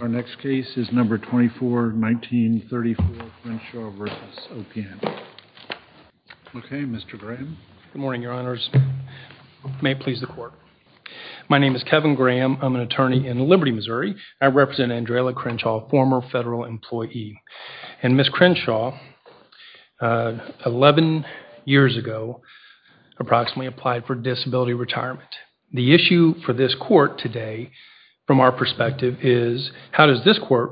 Our next case is number 24, 1934, Crenshaw v. OPM. Okay, Mr. Graham. Good morning, your honors. May it please the court. My name is Kevin Graham. I'm an attorney in Liberty, Missouri. I represent Andrela Crenshaw, former federal employee. And Ms. Crenshaw, 11 years ago, approximately applied for disability retirement. The issue for this court today, from our perspective, is how does this court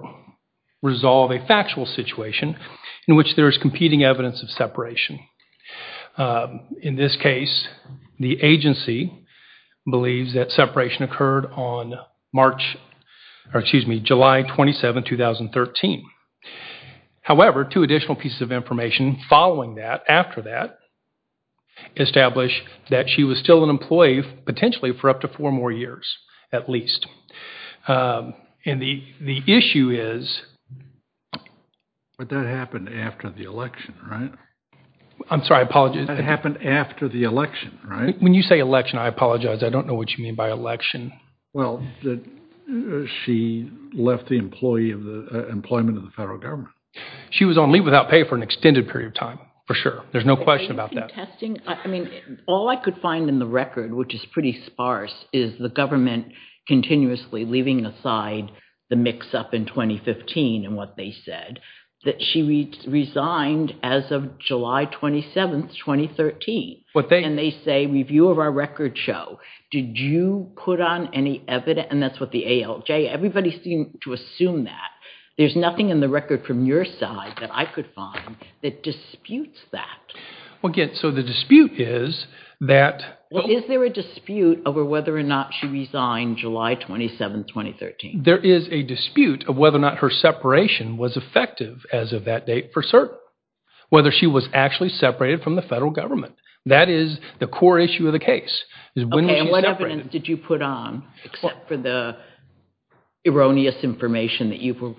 resolve a factual situation in which there is competing evidence of separation? In this case, the agency believes that separation occurred on March, or excuse me, July 27, 2013. However, two additional pieces of information following that, after that, establish that she was still an employee, potentially for up to four more years, at least. And the the issue is... But that happened after the election, right? I'm sorry, I apologize. That happened after the election, right? When you say election, I apologize, I don't know what you mean by election. Well, she left the employee of the employment of the federal government. She was on leave without pay for an All I could find in the record, which is pretty sparse, is the government continuously leaving aside the mix-up in 2015 and what they said. That she resigned as of July 27, 2013. And they say, review of our record show. Did you put on any evidence? And that's what the ALJ, everybody seemed to assume that. There's nothing in the record from your side that I could find that disputes that. Well, again, so the dispute is that... Is there a dispute over whether or not she resigned July 27, 2013? There is a dispute of whether or not her separation was effective as of that date for certain. Whether she was actually separated from the federal government. That is the core issue of the case. What evidence did you put on, except for the erroneous information that you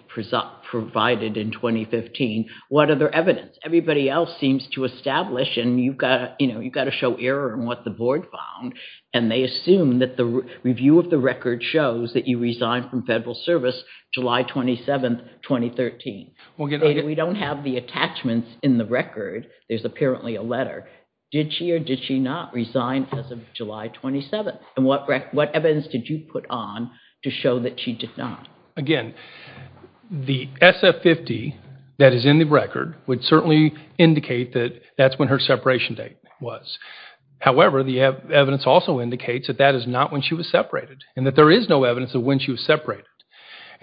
provided in 2015? What other evidence? Everybody else seems to establish and you've got to show error in what the board found. And they assume that the review of the record shows that you resigned from federal service July 27, 2013. We don't have the attachments in the record. There's apparently a letter. Did she or did she not resign as of July 27? And what evidence did you put on to show that she did not? Again, the SF-50 that is in the record would certainly indicate that that's when her separation date was. However, the evidence also indicates that that is not when she was separated, and that there is no evidence of when she was separated.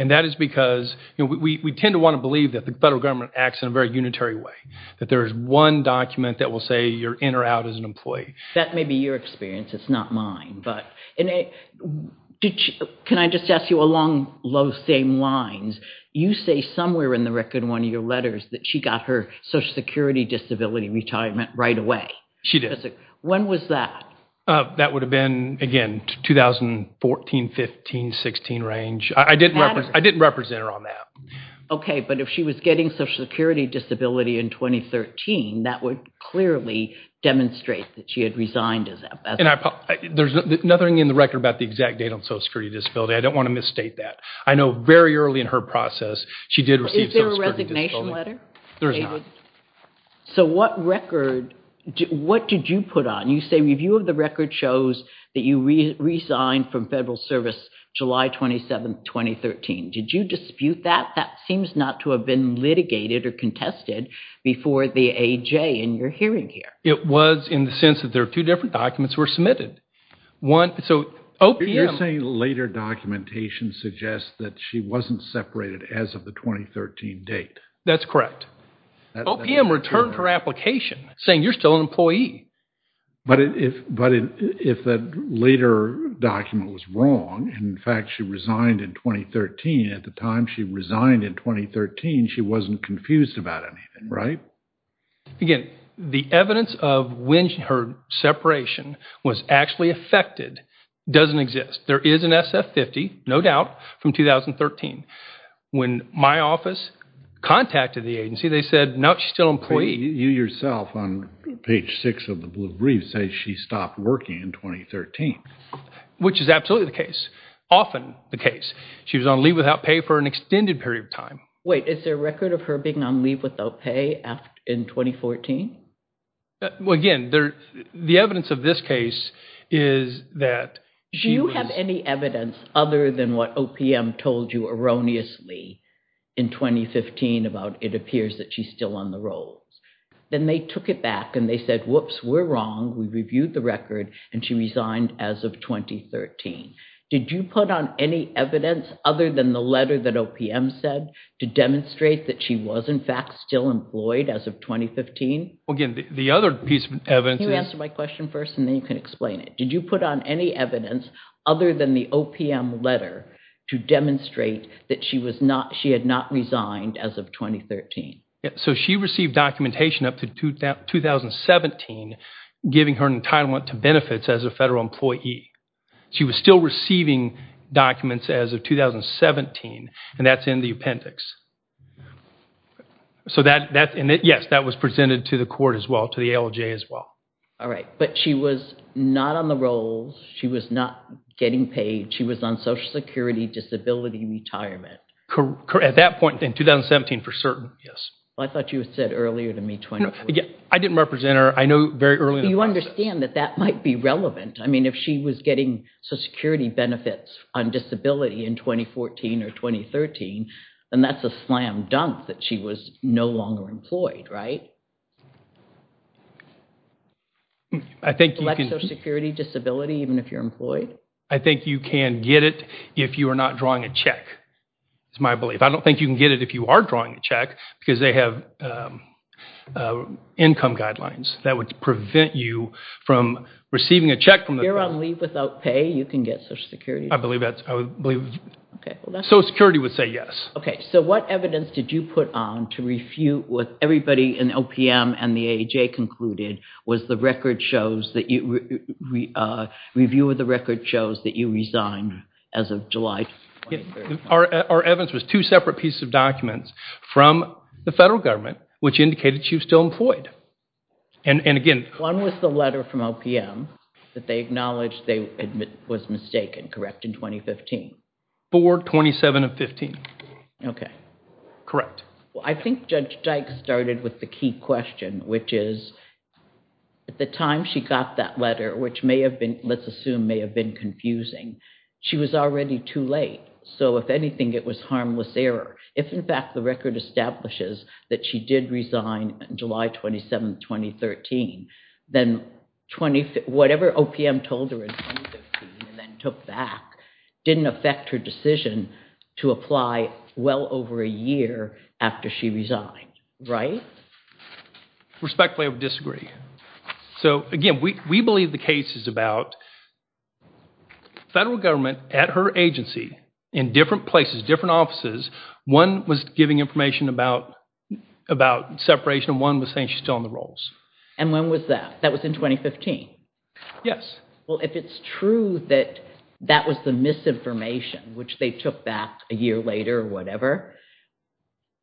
And that is because, you know, we tend to want to believe that the federal government acts in a very unitary way. That there is one document that will say you're in or out as an employee. That may be your experience, it's not mine. But can I just ask you along those same lines, you say somewhere in the record, one of your letters, that she got her Social Security disability retirement right away. She did. When was that? That would have been, again, 2014, 15, 16 range. I didn't represent her on that. Okay, but if she was getting Social Security disability in 2013, that would clearly demonstrate that she had resigned. And there's nothing in the record about the exact date on Social Security disability. I don't want to misstate that. I know very early in her process she did receive Social Security disability. Is there a resignation letter? There is not. So what record, what did you put on? You say review of the record shows that you resigned from federal service July 27, 2013. Did you dispute that? That seems not to have been litigated or contested. Before the AJ in your hearing here. It was in the sense that there are two different documents were submitted. You're saying later documentation suggests that she wasn't separated as of the 2013 date. That's correct. OPM returned her application saying you're still an employee. But if that later document was wrong, in fact she resigned in 2013, at the time she resigned in 2013, she wasn't confused about anything, right? Again, the evidence of when her separation was actually affected doesn't exist. There is an SF-50, no doubt, from 2013. When my office contacted the agency they said, no, she's still an employee. You yourself on page 6 of the blue brief say she stopped working in 2013. Which is absolutely the case. Often the case. She was on leave without pay for an extended period of time. Wait, is there a record of her being on leave without pay in 2014? Again, the evidence of this case is that... Do you have any evidence other than what OPM told you erroneously in 2015 about it appears that she's still on the rolls? Then they took it back and they said, whoops, we're wrong. We reviewed the record and she resigned as of 2013. Did you put on any evidence other than the letter that OPM said to demonstrate that she was in fact still employed as of 2015? Again, the other piece of evidence... Can you answer my question first and then you can explain it. Did you put on any evidence other than the OPM letter to demonstrate that she had not resigned as of 2013? So she received documentation up to 2017 giving her an entitlement to benefits as a federal employee. She was still receiving documents as of 2017 and that's in the appendix. Yes, that was presented to the court as well, to the ALJ as well. All right, but she was not on the rolls. She was not getting paid. She was on Social Security disability retirement. At that point in 2017, for certain, yes. I thought you had said earlier to me... I didn't represent her. I mean, if she was getting Social Security benefits on disability in 2014 or 2013, then that's a slam-dunk that she was no longer employed, right? I think you can... Social Security disability, even if you're employed? I think you can get it if you are not drawing a check. It's my belief. I don't think you can get it if you are drawing a check because they have income guidelines that would prevent you from receiving a check. If you're on leave without pay, you can get Social Security? I believe that. Social Security would say yes. Okay, so what evidence did you put on to refute what everybody in OPM and the AJ concluded was the record shows that you... review of the record shows that you resigned as of July 2013? Our evidence was two separate pieces of documents from the federal government which indicated she was still employed. And again... One was the letter from OPM that they acknowledged they admit was mistaken, correct, in 2015? 4-27-15. Okay. Correct. Well, I think Judge Dyke started with the key question, which is, at the time she got that letter, which may have been, let's assume, may have been confusing, she was already too late. So, if anything, it was harmless error. If, in fact, the record establishes that she did resign July 27, 2013, then whatever OPM told her in 2015 and then took back didn't affect her decision to apply well over a year after she resigned, right? Respectfully, I would disagree. So, again, we believe the case is about federal government at her agency in different places, different offices. One was giving information about separation and one was saying she's still on the rolls. And when was that? That was in 2015? Yes. Well, if it's true that that was the misinformation which they took back a year later or whatever,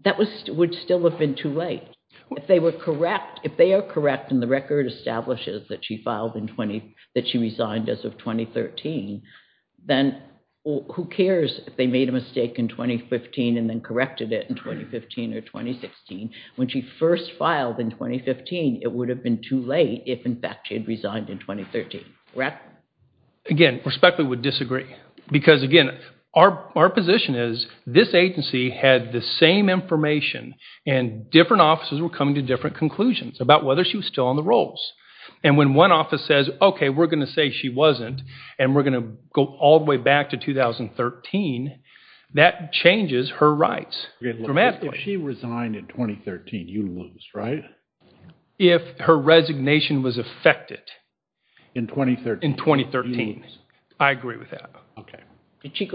that would still have been too late. If they were correct, if they are correct and the record establishes that she filed in 20, that she resigned as of 2013, then who cares if they made a mistake in 2015 and then corrected it in 2015 or 2016. When she first filed in 2015, it would have been too late if, in fact, she had resigned in 2013, correct? Again, respectfully, I would disagree because, again, our position is this agency had the same information and different offices were coming to different conclusions about whether she was still on the rolls. And when one office says, okay, we're going to say she wasn't and we're going to go all the way back to 2013, that changes her rights dramatically. If she resigned in 2013, you lose, right? If her resignation was affected in 2013, I agree with that. Okay. Did she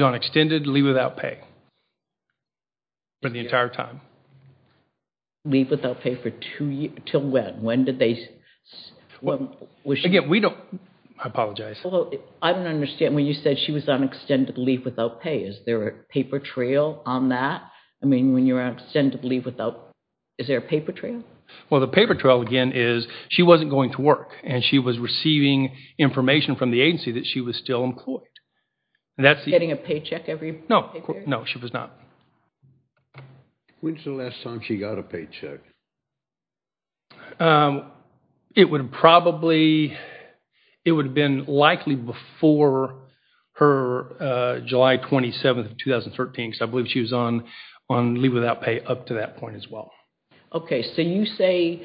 on extended leave without pay for the entire time? Leave without pay for two, till when? When did they? Again, we don't, I apologize. I don't understand when you said she was on extended leave without pay. Is there a paper trail on that? I mean, when you're on extended leave without, is there a paper trail? Well, the paper trail, again, is she wasn't going to work and she was receiving information from the agency that she was still employed. Getting a paycheck every year? No, no, she was not. When's the last time she got a paycheck? It would probably, it would have been likely before her July 27th of 2013, because I believe she was on leave without pay up to that point as well. Okay, so you say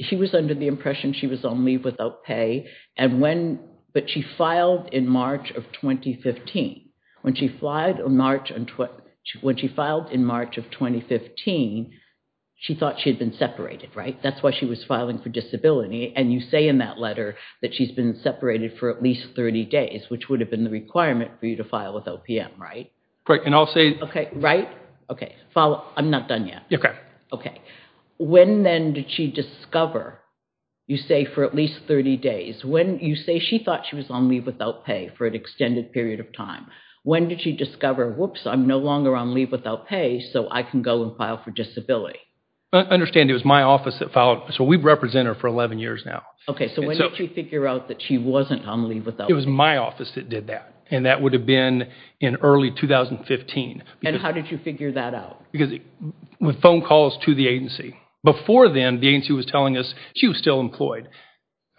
she was under the impression she was on leave without pay, but she filed in March of 2015. When she filed in March of 2015, she thought she had been separated, right? That's why she was filing for disability, and you say in that letter that she's been separated for at least 30 days, which would have been the requirement for you to file with OPM, right? Correct, and I'll say- Okay, right? Okay, I'm not done yet. Okay. Okay, when then did she discover, you say for at least 30 days, when you say she thought she was on leave without pay for an extended period of time, when did she discover, whoops, I'm no longer on leave without pay, so I can go and file for disability? I understand it was my office that filed, so we've represented her for 11 years now. Okay, so when did you figure out that she wasn't on leave without pay? It was my office that did that, and that would have been in early 2015. And how did you figure that out? Because with phone calls to the agency. Before then, the agency was telling us she was still employed.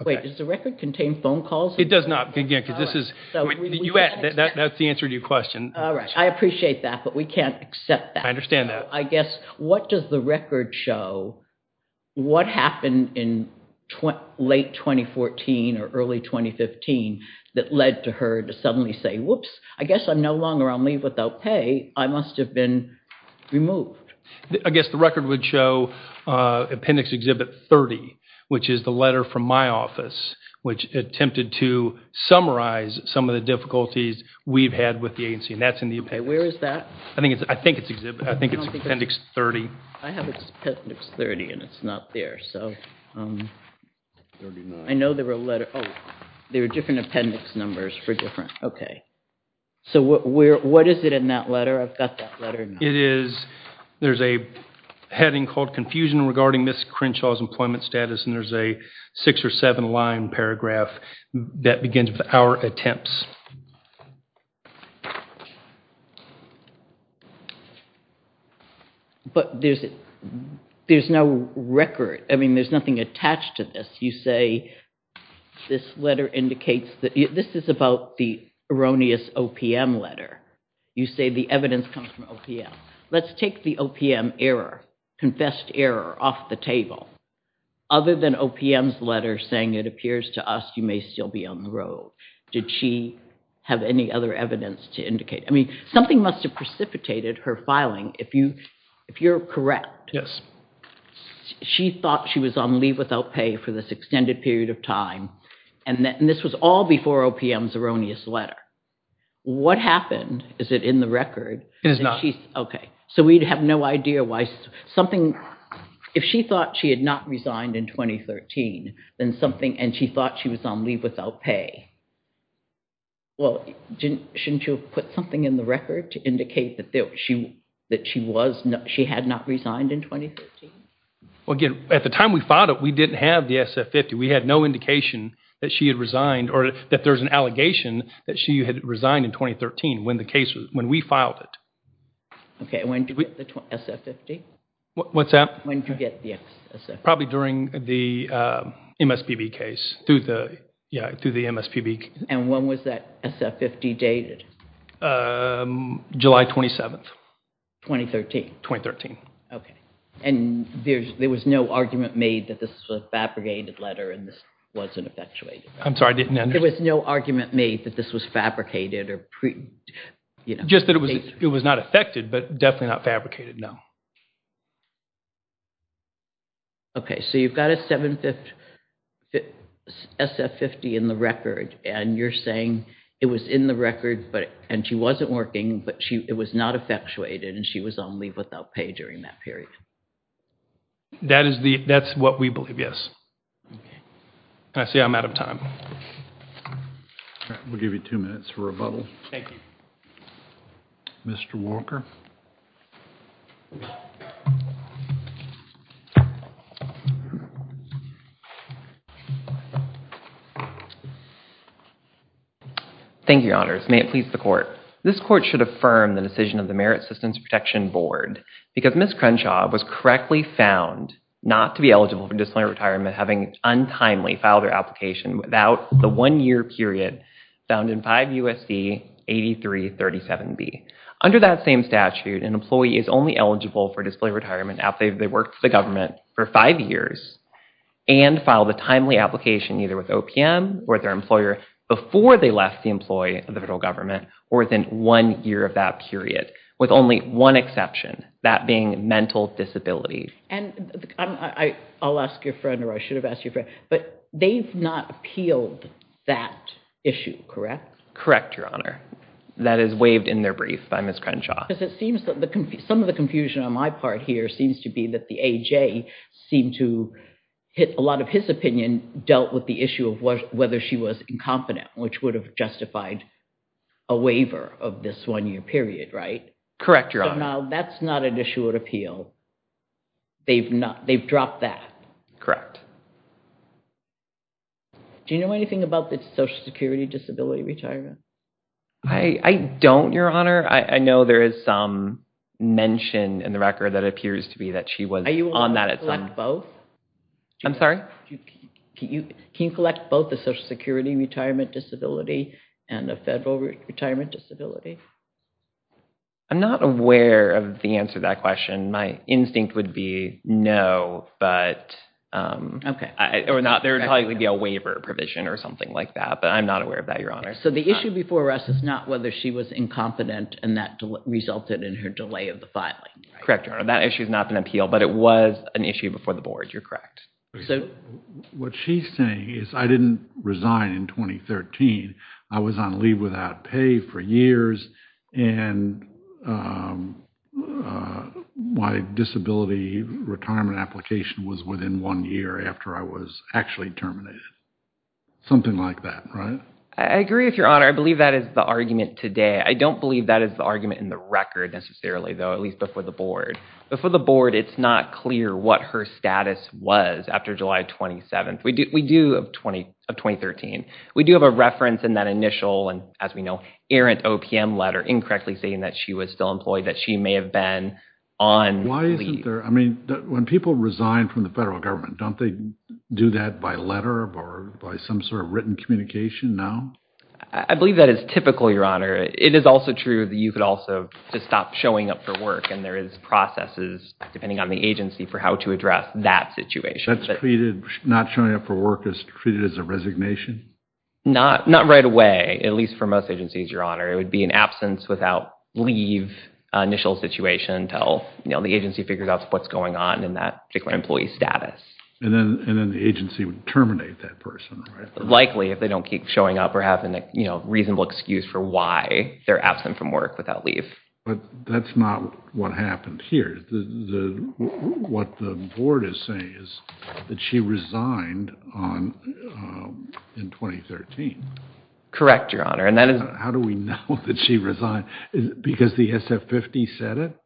Wait, does the record contain phone calls? It does not, again, because this is, that's the answer to your question. All right, I appreciate that, but we can't accept that. I understand that. I guess, what does the say? Whoops, I guess I'm no longer on leave without pay. I must have been removed. I guess the record would show appendix exhibit 30, which is the letter from my office, which attempted to summarize some of the difficulties we've had with the agency, and that's in the appendix. Okay, where is that? I think it's, I think it's exhibit, I think it's appendix 30. I have appendix 30, and it's not there, so I know there were a letter, oh, there are different appendix numbers for different, okay. So what is it in that letter? I've got that letter. It is, there's a heading called confusion regarding Ms. Crenshaw's employment status, and there's a six or seven line paragraph that begins with our attempts. But there's, there's no record. I mean, there's nothing attached to this. You say this letter indicates that, this is about the erroneous OPM letter. You say the evidence comes from OPM. Let's take the OPM error, confessed error, off the table. Other than OPM's letter saying, it appears to us you may still be on the road. Did she have any other evidence to indicate? I mean, something must have precipitated her filing. If you, if you're correct. Yes. She thought she was on leave without pay for this extended period of time, and then this was all before OPM's erroneous letter. What happened? Is it in the record? It is not. Okay, so we'd have no idea why something, if she thought she had not resigned in 2013, then something, and she thought she was on leave without pay. Well, didn't, shouldn't you put something in the record to indicate that she, that she was, she had not resigned in 2013? Well, again, at the time we filed it, we didn't have the SF-50. We had no indication that she had resigned, or that there's an allegation that she had resigned in 2013, when the case was, when we filed it. Okay, when did we, the SF-50? What's that? When did you get the SF-50? Probably during the MSPB case, through the, yeah, through the MSPB. And when was that SF-50 dated? July 27th. 2013? 2013. Okay, and there's, there was no argument made that this was a fabricated letter and this wasn't effectuated? I'm sorry, I didn't hear you. There was no argument made that this was fabricated or, you know. Just that it was, it was not effected, but definitely not fabricated, no. Okay, so you've got a seven-fifth SF-50 in the record, and you're saying it was in the record, but, and she wasn't working, but she, it was not effectuated, and she was on leave without pay during that period. That is the, that's what we believe, yes. Okay, I see I'm out of time. All right, we'll give you two minutes for rebuttal. Thank you. Mr. Walker. Thank you, Your Honors. May it please the Court. This Court should affirm the decision of the Merit Assistance Protection Board because Ms. Crenshaw was correctly found not to be eligible for disciplinary retirement having untimely filed her application without the one-year period found in 5 U.S.C. 8337B. Under that same statute, an employee is only eligible for disciplinary retirement after they worked for the government for five years and filed a timely application either with OPM or their employer before they left the employee of the federal government or in one year of that period, with only one exception, that being mental disability. And I'll ask your friend, or I should have asked your friend, but they've not appealed that issue, correct? Correct, Your Honor. That is waived in their brief by Ms. Crenshaw. Because it seems that the, some of the confusion on my part here seems to be that the AJ seemed to, a lot of his opinion dealt with the issue of whether she was incompetent, which would have justified a waiver of this one-year period, right? Correct, Your Honor. So now that's not an issue of appeal. They've not, they've dropped that. Correct. Do you know anything about the Social Security disability retirement? I don't, Your Honor. I know there is some mention in the record that appears to be that she was on that at some point. Are you able to collect both? I'm sorry? Can you provide a federal retirement disability? I'm not aware of the answer to that question. My instinct would be no, but... Okay. Or not, there would probably be a waiver provision or something like that, but I'm not aware of that, Your Honor. So the issue before us is not whether she was incompetent and that resulted in her delay of the filing. Correct, Your Honor. That issue is not an appeal, but it was an issue before the board. You're correct. What she's saying is I didn't resign in 2013. I was on leave without pay for years and my disability retirement application was within one year after I was actually terminated. Something like that, right? I agree with Your Honor. I believe that is the argument today. I don't believe that is the argument in the record necessarily, though, at least before the board. Before the board, it's not clear what her status was after July 27th of 2013. We do have a reference in that initial, and as we know, errant OPM letter incorrectly saying that she was still employed, that she may have been on leave. Why isn't there... I mean, when people resign from the federal government, don't they do that by letter or by some sort of written communication now? I believe that is typical, Your Honor. It is also true that you could also just stop showing up for work and there is depending on the agency for how to address that situation. That's treated, not showing up for work is treated as a resignation? Not right away, at least for most agencies, Your Honor. It would be an absence without leave initial situation until the agency figures out what's going on in that particular employee status. And then the agency would terminate that person, right? Likely if they don't keep showing up or have a reasonable excuse for their absence from work without leave. But that's not what happened here. What the board is saying is that she resigned in 2013. Correct, Your Honor. How do we know that she resigned? Because the SF50 said it?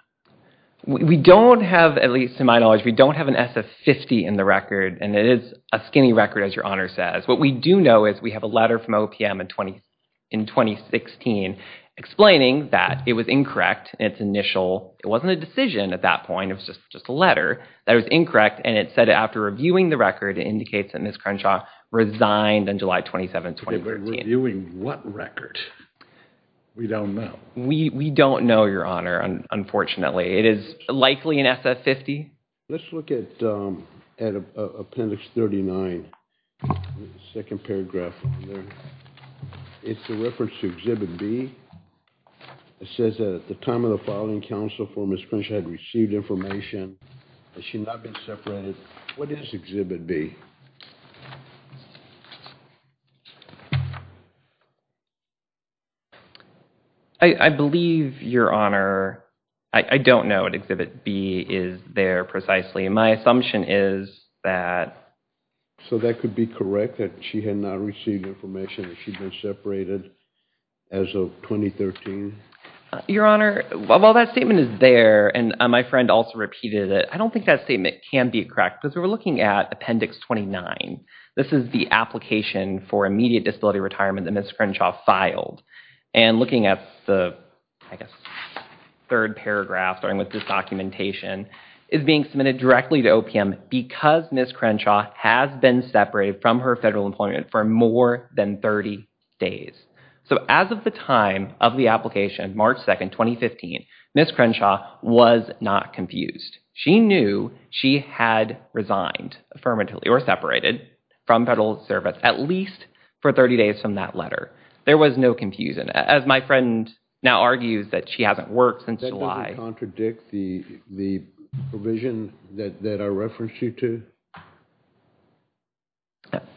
We don't have, at least to my knowledge, we don't have an SF50 in the record. And it is a skinny record, as Your Honor says. What we do know is we have a letter from OPM in 2016 explaining that it was incorrect in its initial, it wasn't a decision at that point, it was just a letter, that it was incorrect. And it said after reviewing the record, it indicates that Ms. Crenshaw resigned on July 27, 2013. Okay, but reviewing what record? We don't know. We don't know, Your Honor, unfortunately. It is likely an SF50. Let's look at Appendix 39, the second paragraph. It's a reference to Exhibit B. It says that at the time of the filing, counsel for Ms. Crenshaw had received information that she had not been separated. What is Exhibit B? I believe, Your Honor, I don't know what Exhibit B is there precisely. My assumption is that... So that could be correct, that she had not received information that she'd been separated as of 2013? Your Honor, while that statement is there, and my friend also repeated it, I don't think that statement can be correct because we're looking at Appendix 29. This is the application for immediate disability retirement that Ms. Crenshaw filed. And looking at the, I guess, third paragraph starting with this documentation, it's being submitted directly to OPM because Ms. Crenshaw has been separated from her federal employment for more than 30 days. So as of the time of the application, March 2, 2015, Ms. Crenshaw was not confused. She knew she had resigned affirmatively or separated from federal service at least for 30 days from that letter. There was no confusion. As my friend now argues that she hasn't worked since July. That doesn't contradict the provision that I referenced you to?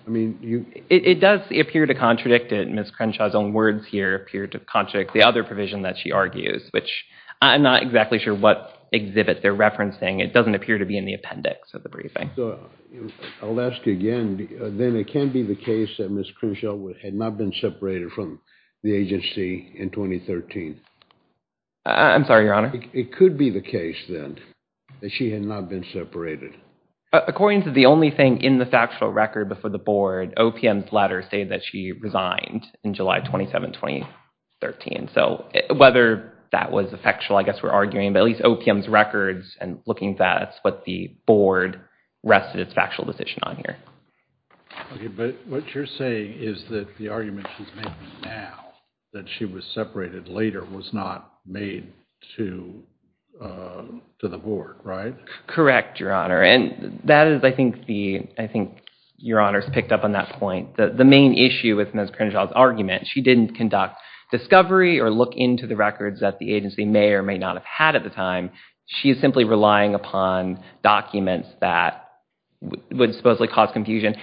I mean, you... It does appear to contradict it. Ms. Crenshaw's own words here appear to contradict the other provision that she argues, which I'm not exactly sure what exhibit they're referencing. It doesn't appear to be in the appendix of the briefing. I'll ask again, then it can be the case that Ms. Crenshaw had not been separated from the agency in 2013? I'm sorry, Your Honor? It could be the case then that she had not been separated. According to the only thing in the factual record before the board, OPM's letter stated that she resigned in July 27, 2013. So whether that was a factual, I guess we're arguing, but at least OPM's records and looking at that, it's what the board rested its factual position on here. But what you're saying is that the argument she's making now that she was separated later was not made to the board, right? Correct, Your Honor. And that is, I think, the... I think Your Honor's picked up on that point. The main issue with Ms. Crenshaw's argument, she didn't conduct discovery or look into the records that the agency may or may not have had at the time. She is simply relying upon documents that would supposedly cause confusion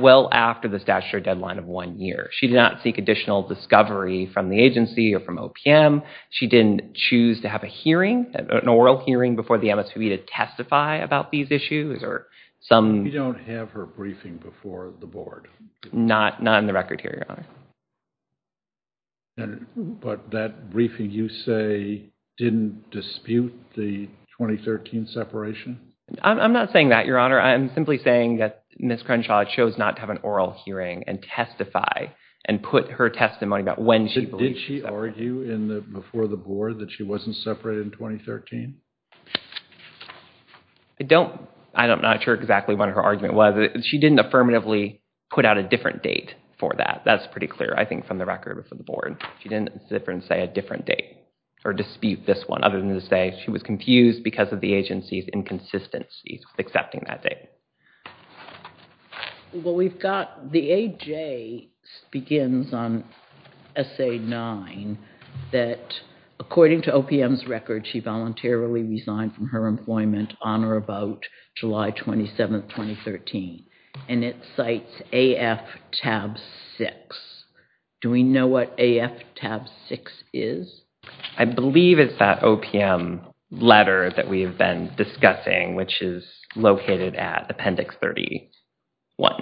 well after the statutory deadline of one year. She did not seek additional discovery from the agency or from OPM. She didn't choose to have a hearing, an oral hearing, before the MSPB to testify about these issues or some... You don't have her briefing before the board? Not on the record here, Your Honor. But that briefing, you say, didn't dispute the 2013 separation? I'm not saying that, Your Honor. I'm simply saying that Ms. Crenshaw chose not to have an oral hearing and testify and put her testimony about when she believes she's separated. Did she argue before the board that she wasn't separated in 2013? I don't... I'm not sure exactly what her argument was. She didn't affirmatively put out a I think from the record before the board. She didn't say a different date or dispute this one other than to say she was confused because of the agency's inconsistencies with accepting that date. Well, we've got... The A.J. begins on Essay 9 that, according to OPM's record, she voluntarily resigned from her employment on or about July 27th, 2013, and it cites AF Tab 6. Do we know what AF Tab 6 is? I believe it's that OPM letter that we have been discussing, which is located at Appendix 31.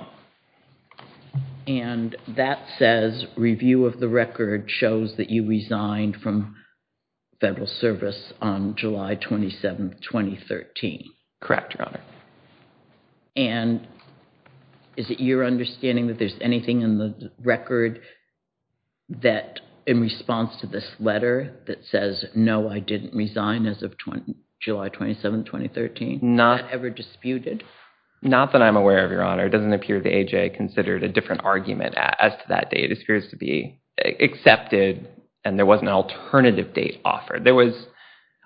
And that says review of the record shows that you resigned from federal service on July 27th, Correct, Your Honor. And is it your understanding that there's anything in the record that, in response to this letter, that says, no, I didn't resign as of July 27th, 2013? Not... Not ever disputed? Not that I'm aware of, Your Honor. It doesn't appear the A.J. considered a different argument as to that date. It appears to be accepted and there wasn't an alternative date offered. There was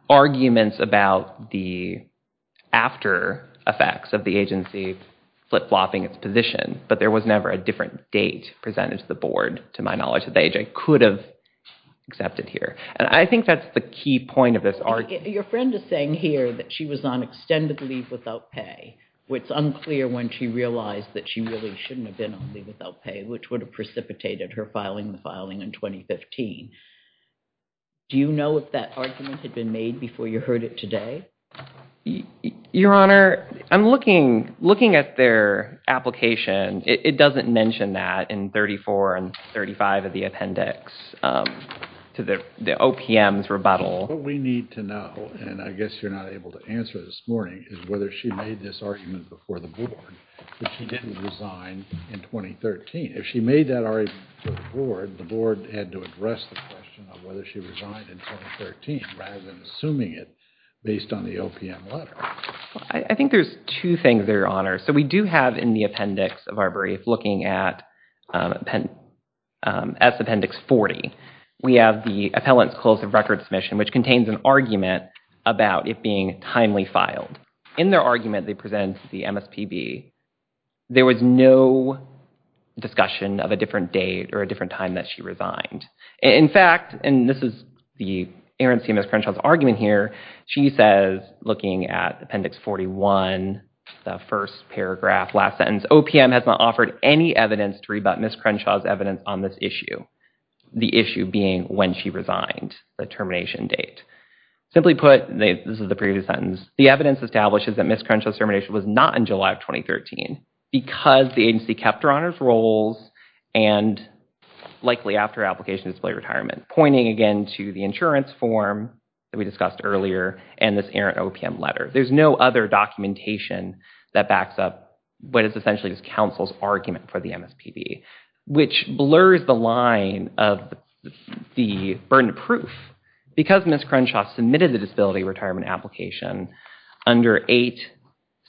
arguments about the after effects of the agency flip-flopping its position, but there was never a different date presented to the board, to my knowledge, that the A.J. could have accepted here. And I think that's the key point of this argument. Your friend is saying here that she was on extended leave without pay, which is unclear when she realized that she really shouldn't have been on leave without pay, which would have precipitated her filing the filing in 2015. Do you know if that argument had been made before you heard it today? Your Honor, I'm looking at their application. It doesn't mention that in 34 and 35 of the appendix to the OPM's rebuttal. What we need to know, and I guess you're not able to answer this morning, is whether she made this argument before the board that she didn't resign in 2013. If she made that argument to the board, the board had to address the question of whether she resigned in 2013 rather than assuming it based on the OPM letter. I think there's two things there, Your Honor. So we do have in the appendix of our brief, looking at appendix 40, we have the appellant's close of record submission, which contains an argument about it being timely filed. In their argument, they present the MSPB. There was no discussion of a different date or a different time that she resigned. In fact, and this is the errancy of Ms. Crenshaw's argument here, she says, looking at appendix 41, the first paragraph, last sentence, OPM has not offered any evidence to rebut Ms. Crenshaw's evidence on this issue. The issue being when she resigned, the termination date. Simply put, this is the previous sentence, the evidence establishes that Ms. Crenshaw's termination was not in July of 2013 because the agency kept her honor's roles, and likely after application to display retirement, pointing again to the insurance form that we discussed earlier, and this errant OPM letter. There's no other documentation that backs up what is essentially this counsel's argument for the MSPB, which blurs the line of the burden of proof. Because Ms. Crenshaw submitted the disability retirement application under 8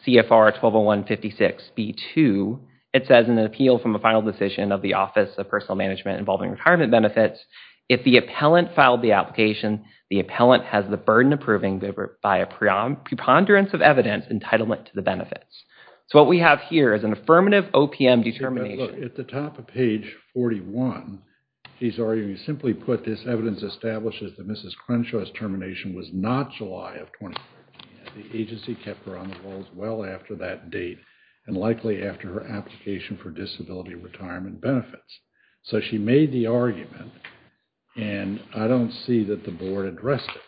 CFR 1201.56 B2, it says in an appeal from a final decision of the Office of Personal Management involving retirement benefits, if the appellant filed the application, the appellant has the burden of proving by a preponderance of evidence entitlement to the benefits. So what we have here is an affirmative OPM determination. At the top of page 41, he's arguing, simply put, this evidence establishes that Ms. Crenshaw's termination was not July of 2013. The agency kept her honor's roles well after that date, and likely after her application for disability retirement benefits. So she made the argument, and I don't see that the board addressed it.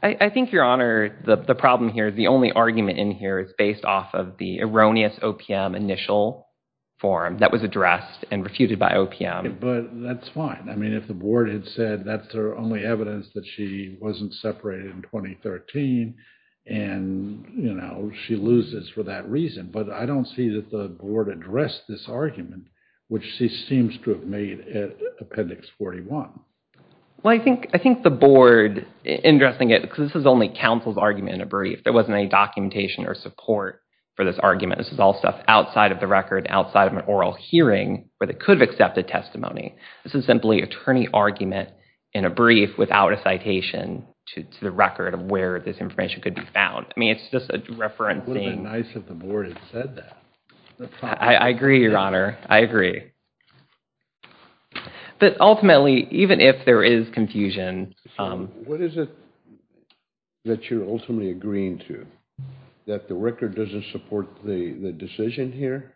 I think, Your Honor, the problem here, the only argument in here is based off of the erroneous OPM initial form that was addressed and refuted by OPM. But that's fine. I mean, if the board had said that's their only evidence that she wasn't separated in 2013, and, you know, she loses for that reason. But I don't see that the board addressed this argument, which she seems to have made at appendix 41. Well, I think the board, interesting, because this is only counsel's argument in a brief, there wasn't any documentation or support for this argument. This is all stuff outside of the record, outside of an oral hearing, where they could have accepted testimony. This is simply attorney argument in a brief without a citation to the record of where this information could be found. I mean, it's just a reference thing. Wouldn't it be nice if the board had said that? I agree, Your Honor, I agree. But ultimately, even if there is confusion... What is it that you're ultimately agreeing to? That the record doesn't support the decision here?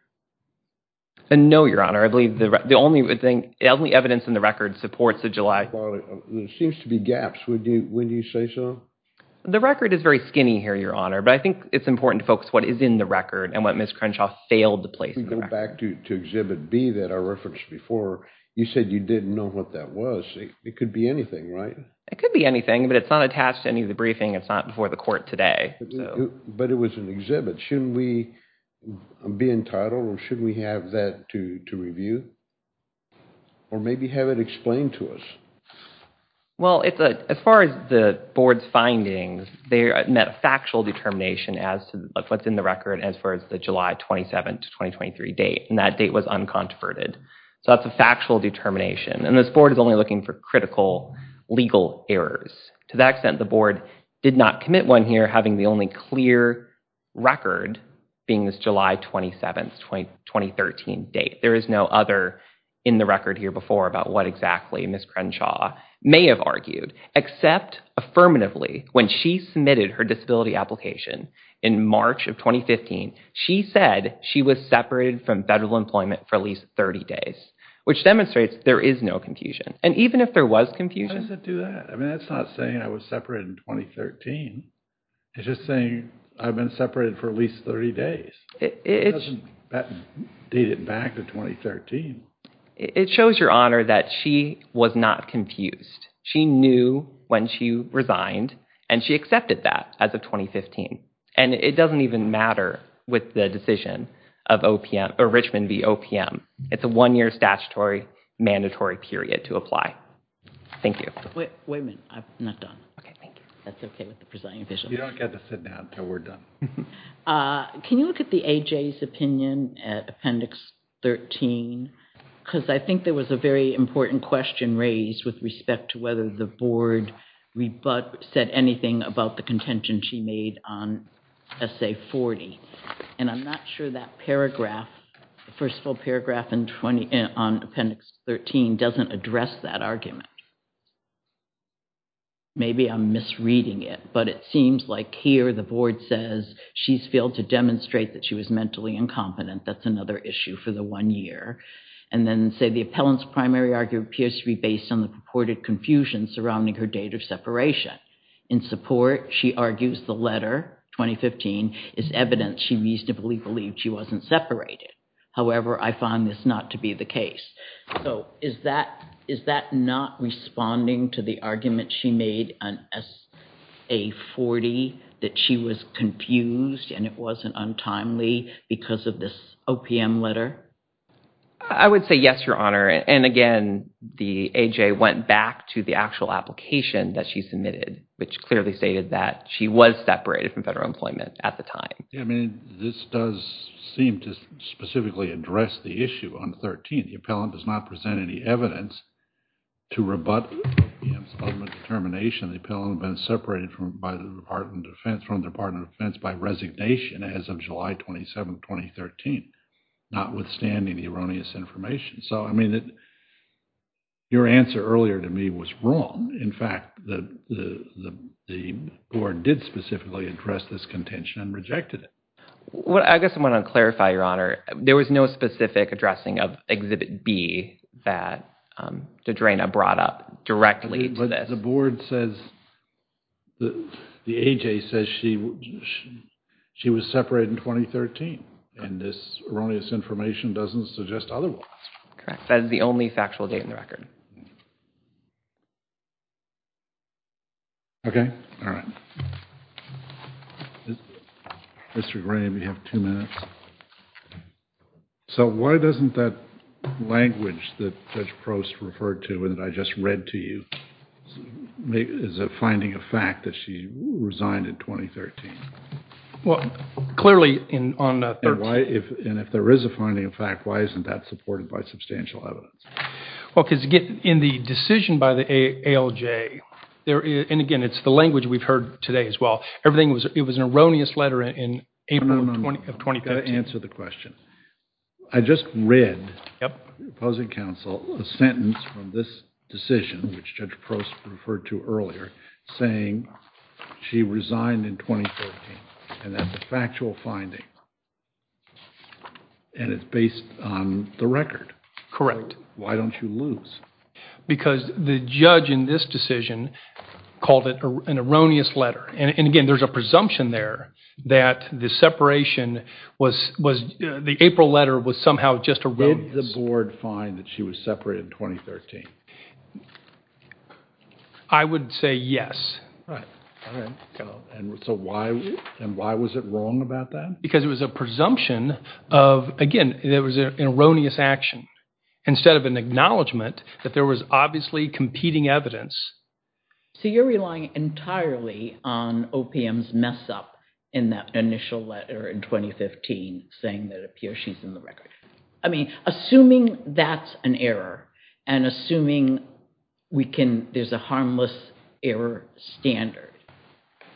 No, Your Honor. I believe the only evidence in the record supports the July... There seems to be gaps. When do you say so? The record is very skinny here, Your Honor. But I think it's important to focus what is in the record and what Ms. Crenshaw failed to place in the record. If we go back to exhibit B that I referenced before, you said you didn't know what that was. It could be anything, right? It could be anything, but it's not attached to any of the briefing. It's not before the court today. But it was an exhibit. Shouldn't we be entitled or should we have that to review? Or maybe have it explained to us? Well, as far as the board's findings, they met factual determination as to what's in the record as far as the July 27th, 2023 date. And that date was unconverted. So that's a factual determination. And this board is only looking for critical legal errors. To that extent, the board did not commit one here having the only clear record being this July 27th, 2013 date. There is no other in the record here before about what exactly Ms. Crenshaw may have argued. Except affirmatively, when she submitted her disability application in March of 2015, she said she was separated from federal employment for at least 30 days, which demonstrates there is no confusion. And even if there was confusion- How does it do that? I mean, that's not saying I was separated in 2013. It's just saying I've been separated for at least 30 days. It doesn't date it back to 2013. It shows your honor that she was not confused. She knew when she resigned and she accepted that as of 2015. And it doesn't even matter with the decision of OPM or Richmond v. OPM. It's a one-year statutory mandatory period to apply. Thank you. Wait a minute. I'm not done. Okay, thank you. That's okay with the presiding official. You don't get to sit down until we're done. Can you look at the AJ's opinion at Appendix 13? Because I think there was a very important question raised with respect to whether the board said anything about the contention she made on Essay 40. And I'm not sure that paragraph, first full paragraph on Appendix 13 doesn't address that argument. Maybe I'm misreading it, but it seems like here the board says she's failed to demonstrate that she was mentally incompetent. That's another issue for the one year. And then say the appellant's primary argument appears to be based on the purported confusion surrounding her date of separation. In support, she argues the letter, 2015, is evidence she reasonably believed she wasn't separated. However, I find this not to be the case. So is that not responding to the argument she made on Essay 40 that she was confused and it wasn't untimely because of this OPM letter? I would say yes, Your Honor. And again, the AJ went back to the actual application that she submitted, which clearly stated that she was separated from federal employment at the time. Yeah, I mean, this does seem to specifically address the issue on 13. The appellant does not present any evidence to rebut the determination the appellant had been separated from the Department of Defense by resignation as of July 27, 2013, notwithstanding the erroneous information. So I mean, your answer earlier to me was wrong. In fact, the board did specifically address this contention and rejected it. I guess I want to clarify, Your Honor. There was no specific addressing of Exhibit B that DeDrayna brought up directly to this. But the board says, the AJ says she was separated in 2013. And this erroneous information doesn't suggest otherwise. Correct. That is the only factual date in the record. Okay. All right. Mr. Graham, you have two minutes. So why doesn't that language that Judge Prost referred to and that I just read to you is a finding of fact that she resigned in 2013? Well, clearly on 13. And if there is a finding of fact, why isn't that supported by substantial evidence? Well, because again, in the decision by the ALJ, and again, it's the language we've heard today as well, everything was, it was an erroneous letter in April of 2015. I've got to answer the question. I just read, opposing counsel, a sentence from this decision, which Judge Prost referred to earlier, saying she resigned in 2013. And that's a factual finding. And it's based on the record. Correct. Why don't you lose? Because the judge in this decision called it an erroneous letter. And again, there's a presumption there that the separation was, was the April letter was somehow just erroneous. Did the board find that she was separated in 2013? I would say yes. Right. All right. And so why, and why was it wrong about that? Because it was a presumption of, again, there was an erroneous action instead of an acknowledgement that there was obviously competing evidence. So you're relying entirely on OPM's mess up in that initial letter in 2015, saying that it appears she's in the record. I mean, assuming that's an error and assuming we can, there's a harmless error standard.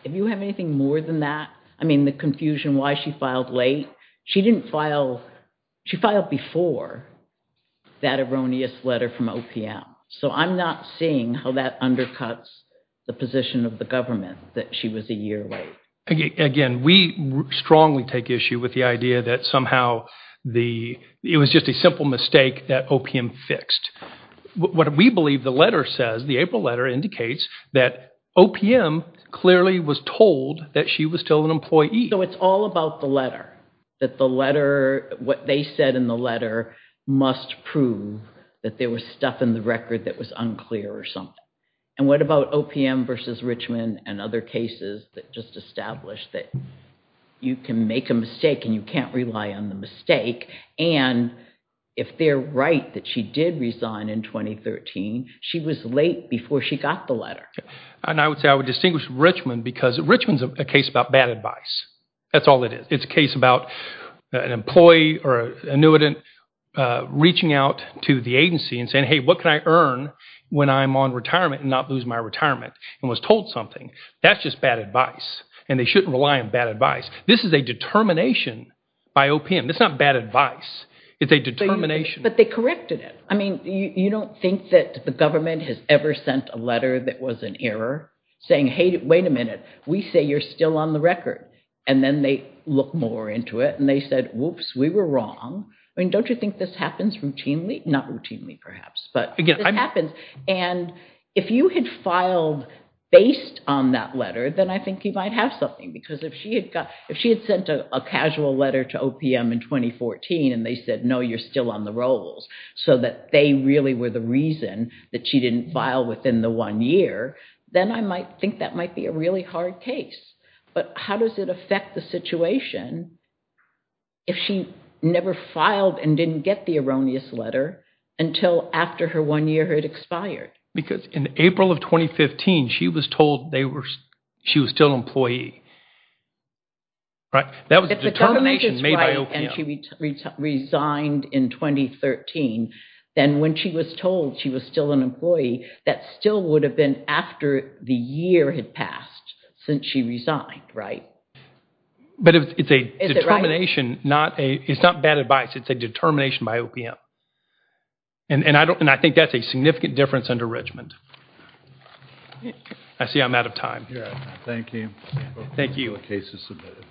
If you have anything more than that, I mean, the confusion why she filed late, she didn't file, she filed before that erroneous letter from OPM. So I'm not seeing how that undercuts the position of the government that she was a year late. Again, we strongly take issue with the idea that somehow the, it was just a simple mistake that OPM fixed. What we believe the letter says, the April letter indicates that OPM clearly was told that she was still an employee. So it's all about the letter, that the letter, what they said in the letter must prove that there was stuff in the record that was unclear or something. And what about OPM versus Richmond and other cases that just established that you can make a mistake and you can't rely on the mistake. And if they're right that she did resign in 2013, she was late before she got the letter. And I would say I would distinguish Richmond because Richmond's a case about bad advice. That's all it is. It's a case about an employee or an annuitant reaching out to the agency and saying, hey, what can I earn when I'm on retirement and not lose my retirement and was told something. That's just bad advice. And they shouldn't rely on bad advice. This is a determination by OPM. It's not bad advice. It's a determination. But they corrected it. I mean, you don't think that the government has ever sent a letter that was an error saying, hey, wait a minute, we say you're still on the record. And then they look more into it. And they said, whoops, we were wrong. I mean, don't you think this happens routinely? Not routinely, perhaps. But it happens. And if you had filed based on that letter, then I think you might have something. Because if she had sent a casual letter to OPM in 2014 and they said, no, you're still on the rolls so that they really were the reason that she didn't file within the one year, then I think that might be a really hard case. But how does it affect the situation if she never filed and didn't get the erroneous letter until after her one year had expired? Because in April of 2015, she was told she was still an employee. That was a determination made by OPM. If the government is right and she resigned in 2013, then when she was told she was still an employee, that still would have been after the year had passed since she resigned, right? Is it right? But it's a determination. It's not bad advice. It's a determination by OPM. And I think that's a significant difference under Richmond. I see I'm out of time. Yeah, thank you. Thank you. The case is submitted.